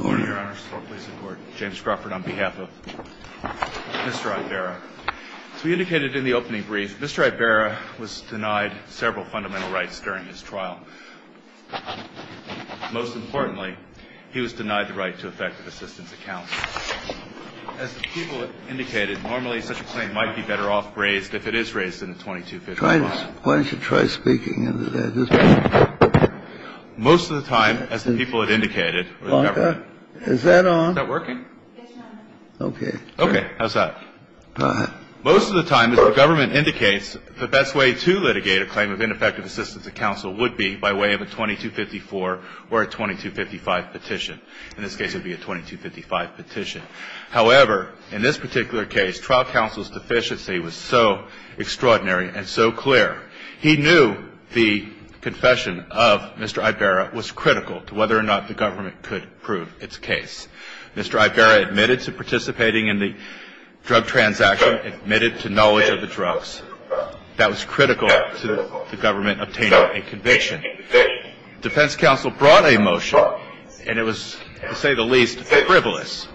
on behalf of Mr. Ibarra. As we indicated in the opening brief, Mr. Ibarra was denied several fundamental rights during his trial. Most importantly, he was denied the right to effective assistance of counsel. As the people indicated, normally such a claim might be better off raised if it is raised in a 2255. Kennedy, why don't you try speaking into that? Ibarra Most of the time, as the people have indicated, or the government. Kennedy Is that on? Ibarra Is that working? Kennedy Yes, Your Honor. Ibarra Okay. Ibarra Okay. How's that? Kennedy Go ahead. Ibarra Most of the time, as the government indicates, the best way to litigate a claim of ineffective assistance of counsel would be by way of a 2254 or a 2255 petition. In this case, it would be a 2255 petition. However, in this particular case, trial counsel's deficiency was so extraordinary and so clear. He knew the confession of Mr. Ibarra was critical to whether or not the government could prove its case. Mr. Ibarra admitted to participating in the drug transaction, admitted to knowledge of the drugs. That was critical to the government obtaining a conviction. The defense counsel brought a motion, and it was, to say the least, frivolous,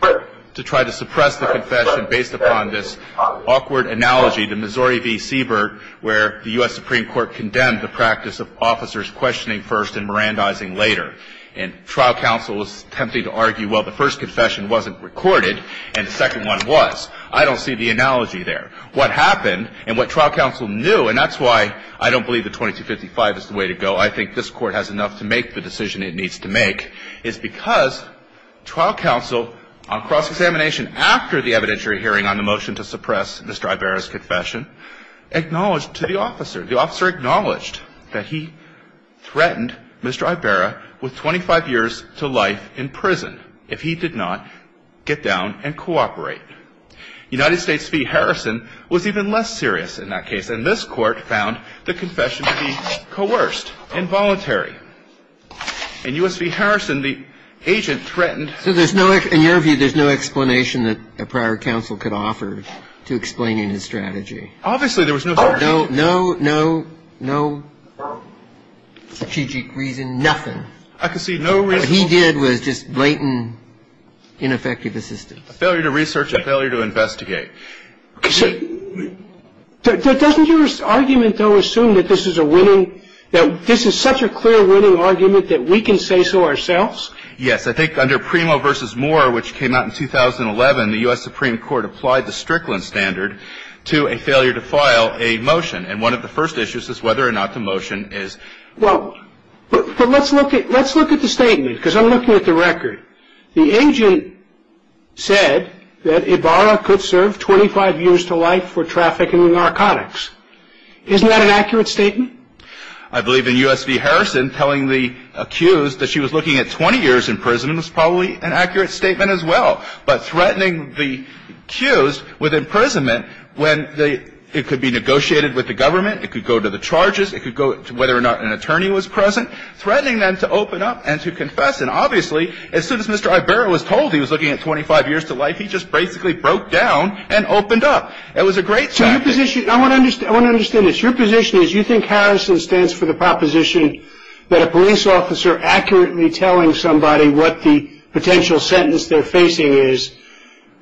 to try to suppress the confession based upon this awkward analogy to Missouri v. Siebert, where the U.S. Supreme Court condemned the practice of officers questioning first and mirandizing later. And trial counsel was tempted to argue, well, the first confession wasn't recorded, and the second one was. I don't see the analogy there. What happened, and what trial counsel knew, and that's why I don't believe the 2255 is the way to go, I think this Court has enough to make the decision it needs to make, is because trial counsel, on cross-examination after the evidentiary hearing on the motion to suppress Mr. Ibarra's confession, acknowledged to the officer, the officer acknowledged that he threatened Mr. Ibarra with 25 years to life in prison if he did not get down and cooperate. United States v. Harrison was even less serious in that case, and this Court found the confession to be coerced, involuntary. In U.S. v. Harrison, the agent threatened... Well, let's look at the statement, because I'm looking at the record. The agent said that it was a failure to investigate. I believe in U.S. v. Harrison, telling the accused that she was looking at 20 years in prison was probably an accurate statement as well, but threatening the accused with imprisonment when it could be negotiated with the government, it could go to the charges, it could go to whether or not an attorney was present, threatening them to open up and to confess. And obviously, as soon as Mr. Ibarra was told he was looking at 25 years to life, he just basically broke down and opened up. It was a great tactic. I want to understand this. Your position is you think Harrison stands for the proposition that a police officer accurately telling somebody what the potential sentence they're facing is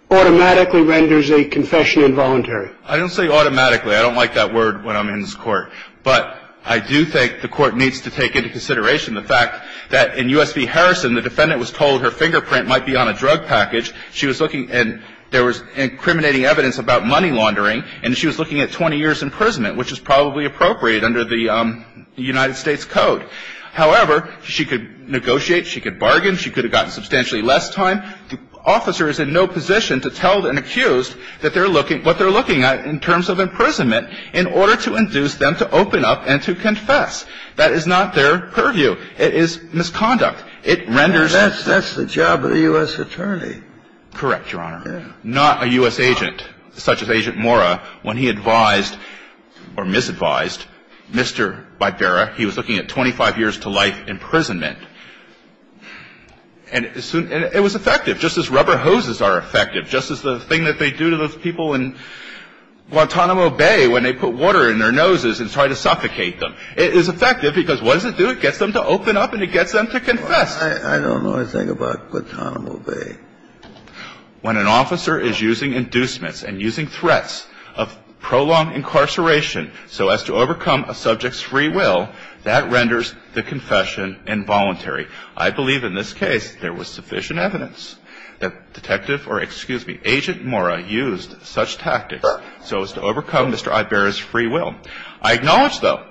automatically renders a confession involuntary? I don't say automatically. I don't like that word when I'm in this Court. But I do think the Court needs to take into consideration the fact that in U.S. v. Harrison, the defendant was told her fingerprint might be on a drug package. She was looking, and there was incriminating evidence about money laundering, and she was looking at 20 years' imprisonment, which is probably appropriate under the United States Code. However, she could negotiate, she could bargain, she could have gotten substantially less time. The officer is in no position to tell an accused that they're looking at what they're looking at in terms of imprisonment in order to induce them to open up and to confess. That is not their purview. It is misconduct. It renders a confession. That's the job of the U.S. attorney. Correct, Your Honor. Yeah. It's not a U.S. agent, such as Agent Mora, when he advised or misadvised Mr. Vibera. He was looking at 25 years to life imprisonment. And it was effective, just as rubber hoses are effective, just as the thing that they do to those people in Guantanamo Bay when they put water in their noses and try to suffocate them. It is effective because what does it do? It gets them to open up and it gets them to confess. I don't know a thing about Guantanamo Bay. When an officer is using inducements and using threats of prolonged incarceration so as to overcome a subject's free will, that renders the confession involuntary. I believe in this case there was sufficient evidence that Detective or, excuse me, Agent Mora used such tactics so as to overcome Mr. Vibera's free will. I acknowledge, though,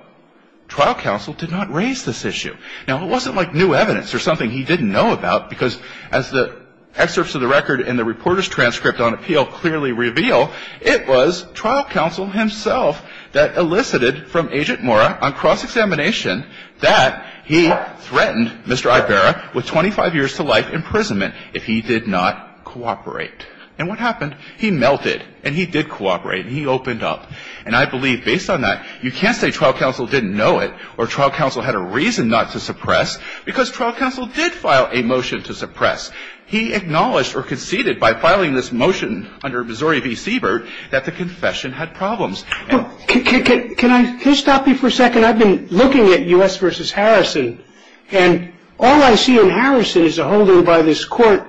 trial counsel did not raise this issue. Now, it wasn't like new evidence or something he didn't know about because as the excerpts of the record in the reporter's transcript on appeal clearly reveal, it was trial counsel himself that elicited from Agent Mora on cross-examination that he threatened Mr. Vibera with 25 years to life imprisonment if he did not cooperate. And what happened? He melted and he did cooperate and he opened up. And I believe based on that, you can't say trial counsel didn't know it or trial counsel had a reason not to suppress because trial counsel did file a motion to suppress. He acknowledged or conceded by filing this motion under Missouri v. Siebert that the confession had problems. Can I stop you for a second? I've been looking at U.S. v. Harrison and all I see in Harrison is a holding by this court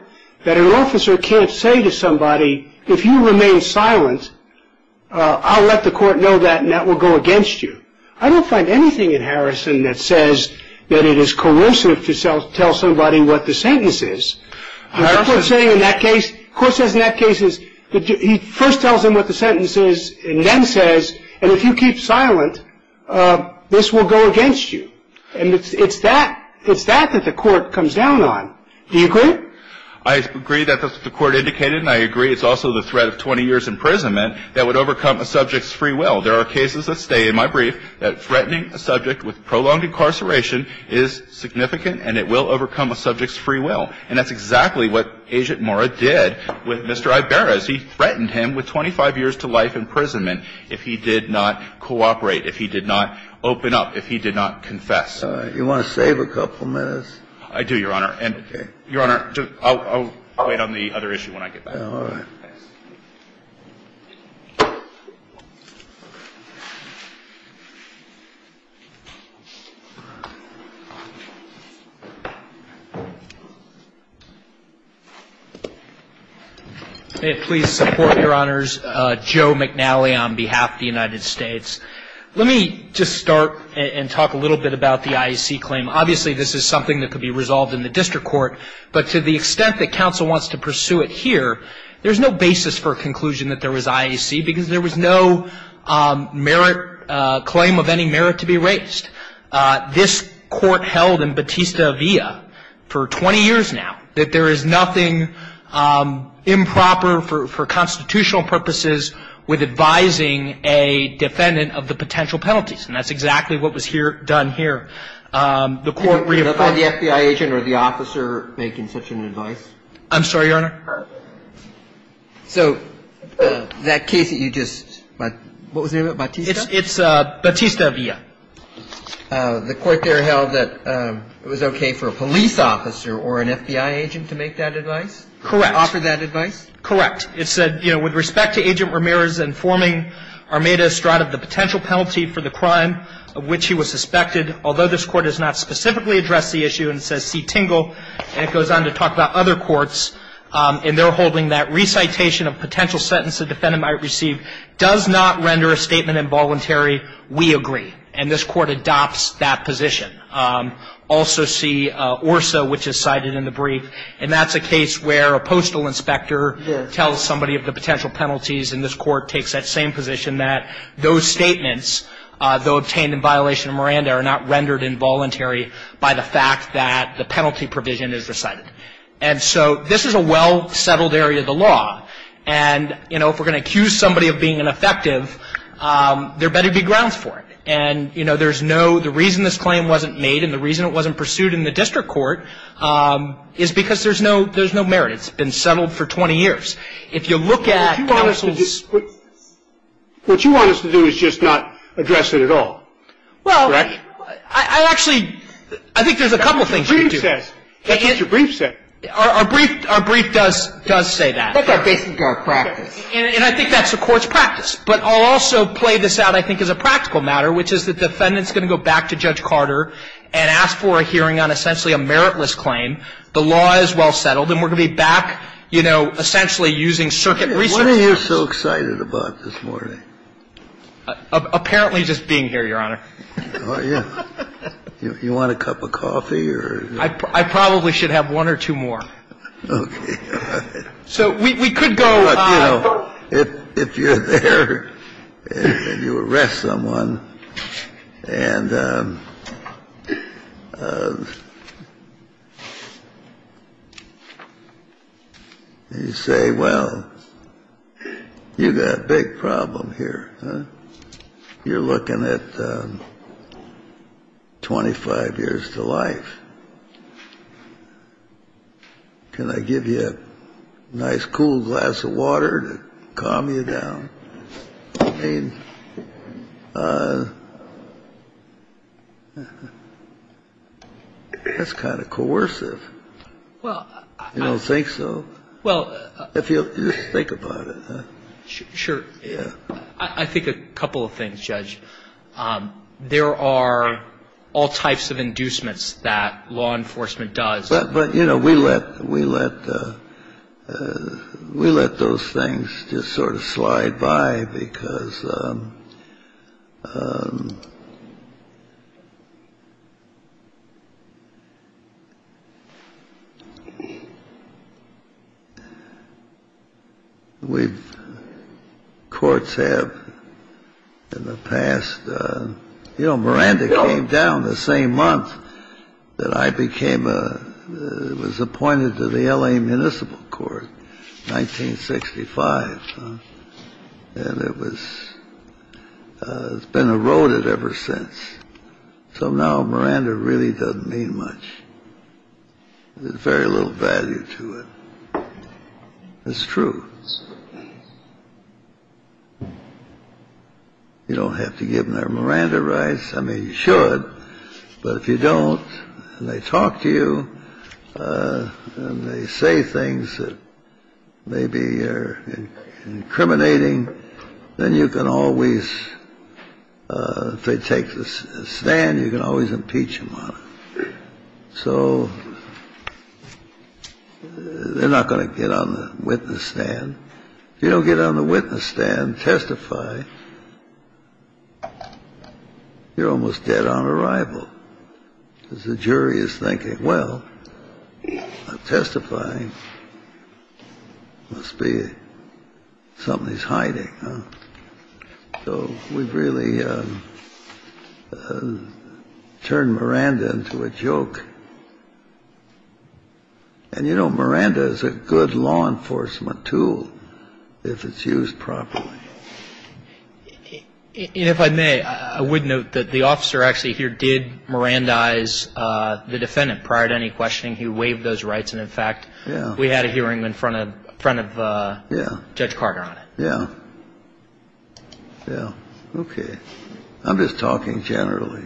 that an officer can't say to somebody, if you remain silent, I'll let the court know that and that will go against you. I don't find anything in Harrison that says that it is coercive to tell somebody what the sentence is. What the court is saying in that case, the court says in that case is that he first tells him what the sentence is and then says, and if you keep silent, this will go against you. And it's that that the court comes down on. Do you agree? I agree that the court indicated and I agree it's also the threat of 20 years' imprisonment that would overcome a subject's free will. There are cases that stay in my brief that threatening a subject with prolonged incarceration is significant and it will overcome a subject's free will. And that's exactly what Agent Mora did with Mr. Ibarra. He threatened him with 25 years to life imprisonment if he did not cooperate, if he did not open up, if he did not confess. You want to save a couple minutes? I do, Your Honor. Okay. Your Honor, I'll wait on the other issue when I get back. All right. May it please support, Your Honors, Joe McNally on behalf of the United States. Let me just start and talk a little bit about the IEC claim. Obviously, this is something that could be resolved in the district court, but to the extent that counsel wants to pursue it here, there's no basis for a conclusion that there was IEC because there was no claim of any merit to be raised. This court held in Batista-Villa for 20 years now that there is nothing improper for constitutional purposes with advising a defendant of the potential penalties, and that's exactly what was done here. The court reaffirmed- Could I find the FBI agent or the officer making such an advice? I'm sorry, Your Honor. All right. So that case that you just, what was the name of it, Batista? It's Batista-Villa. The court there held that it was okay for a police officer or an FBI agent to make that advice? Correct. To offer that advice? Correct. It said, you know, And it goes on to talk about other courts, and they're holding that recitation of potential sentence the defendant might receive does not render a statement involuntary. We agree. And this court adopts that position. Also see ORSA, which is cited in the brief, and that's a case where a postal inspector same position that those statements, though obtained in violation of Miranda, are not rendered involuntary by the fact that the penalty provision is recited. And so this is a well-settled area of the law, and, you know, if we're going to accuse somebody of being ineffective, there better be grounds for it. And, you know, there's no, the reason this claim wasn't made and the reason it wasn't pursued in the district court is because there's no merit. It's been settled for 20 years. If you look at counsel's What you want us to do is just not address it at all. Correct? Well, I actually, I think there's a couple of things we can do. That's what your brief says. Our brief does say that. That's our basic practice. And I think that's the court's practice. But I'll also play this out, I think, as a practical matter, which is the defendant's going to go back to Judge Carter and ask for a hearing on essentially a meritless claim. The law is well settled. And we're going to be back, you know, essentially using circuit research. What are you so excited about this morning? Apparently just being here, Your Honor. Oh, yeah. You want a cup of coffee or? I probably should have one or two more. Okay. So we could go. If you're there and you arrest someone and you say, well, you've got a big problem here. You're looking at 25 years to life. Can I give you a nice cool glass of water to calm you down? I mean, that's kind of coercive. Well, I. You don't think so? Well. If you think about it. Sure. Yeah. I think a couple of things, Judge. There are all types of inducements that law enforcement does. But, you know, we let we let we let those things just sort of slide by because we've courts have in the past. Miranda came down the same month that I became a was appointed to the L.A. Municipal Court. Nineteen sixty five. And it was it's been eroded ever since. So now Miranda really doesn't mean much. Very little value to it. It's true. So. You don't have to give them their Miranda rights. I mean, you should. But if you don't, they talk to you and they say things that maybe are incriminating. Then you can always take this stand. You can always impeach him. So. They're not going to get on the witness stand. You don't get on the witness stand, testify. You're almost dead on arrival because the jury is thinking, well, testifying must be something he's hiding. So we've really turned Miranda into a joke. And, you know, Miranda is a good law enforcement tool if it's used properly. And if I may, I would note that the officer actually here did Mirandize the defendant prior to any questioning. He waived those rights. And in fact, we had a hearing in front of front of Judge Carter on it. Yeah. Yeah. OK. I'm just talking generally.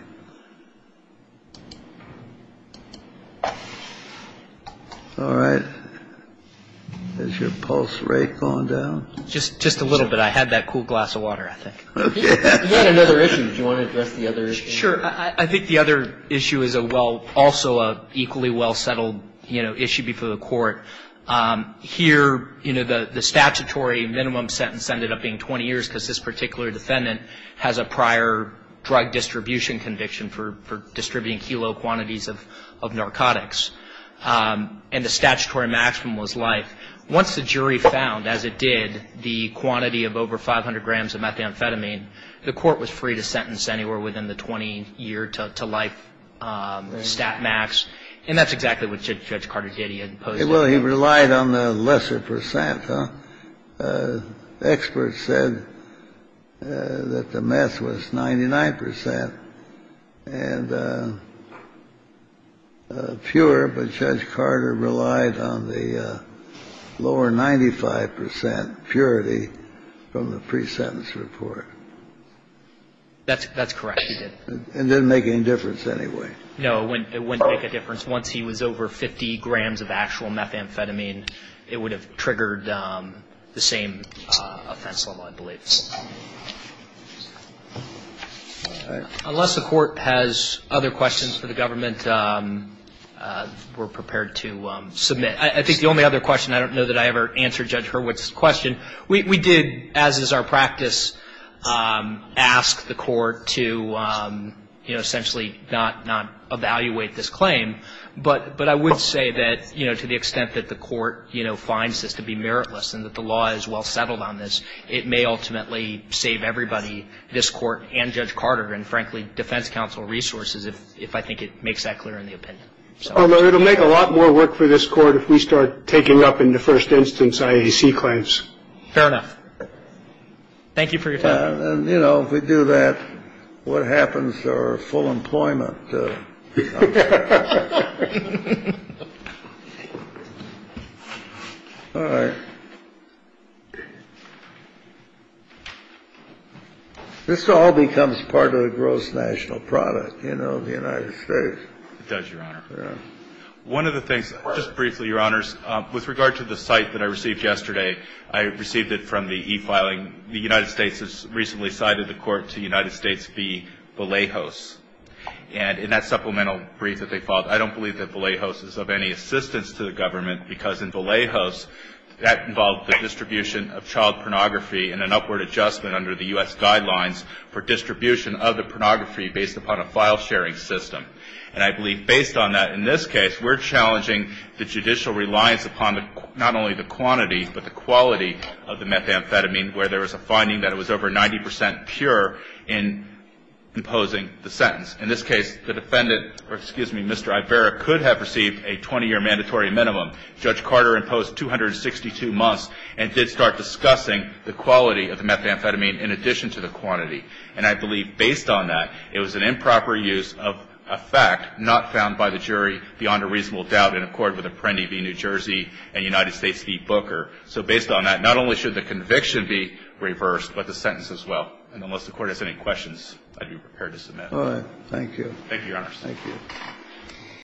All right. Is your pulse rate going down? Just just a little bit. I had that cool glass of water, I think. Another issue. Do you want to address the other? Sure. I think the other issue is a well also equally well settled issue before the court here. You know, the statutory minimum sentence ended up being 20 years because this particular defendant has a prior drug distribution conviction for distributing kilo quantities of of narcotics and the statutory maximum was life. Once the jury found, as it did, the quantity of over 500 grams of methamphetamine, the court was free to sentence anywhere within the 20 year to life stat max. And that's exactly what Judge Carter did. Well, he relied on the lesser percent. Experts said that the meth was 99 percent and fewer. But Judge Carter relied on the lower 95 percent purity from the pre-sentence report. That's that's correct. It didn't make any difference anyway. No, it wouldn't make a difference. Once he was over 50 grams of actual methamphetamine, it would have triggered the same offense level, I believe. All right. Unless the court has other questions for the government, we're prepared to submit. I think the only other question I don't know that I ever answered Judge Hurwitz question. We did, as is our practice, ask the court to, you know, essentially not evaluate this claim. But I would say that, you know, to the extent that the court, you know, finds this to be meritless and that the law is well settled on this, it may ultimately save everybody, this court and Judge Carter and, frankly, defense counsel resources if I think it makes that clear in the opinion. So it'll make a lot more work for this court if we start taking up in the first instance IAC claims. Fair enough. Thank you for your time. You know, if we do that, what happens to our full employment? All right. This all becomes part of the gross national product, you know, of the United States. It does, Your Honor. Yeah. One of the things, just briefly, Your Honors, with regard to the cite that I received yesterday, I received it from the e-filing. The United States has recently cited the court to the United States v. Vallejos. And in that supplemental brief that they filed, I don't believe that Vallejos is of any assistance to the government, because in Vallejos that involved the distribution of child pornography and an upward adjustment under the U.S. guidelines for distribution of the pornography based upon a file-sharing system. And I believe based on that, in this case, we're challenging the judicial reliance upon not only the quantity but the quality of the methamphetamine, where there was a finding that it was over 90 percent pure in imposing the sentence. In this case, the defendant, or excuse me, Mr. Ibarra, could have received a 20-year mandatory minimum. Judge Carter imposed 262 months and did start discussing the quality of the methamphetamine in addition to the quantity. And I believe based on that, it was an improper use of a fact not found by the jury beyond a reasonable doubt in accord with Apprendi v. New Jersey and United States v. Booker. So based on that, not only should the conviction be reversed, but the sentence as well. And unless the Court has any questions, I'd be prepared to submit. All right. Thank you. Thank you, Your Honor. Thank you.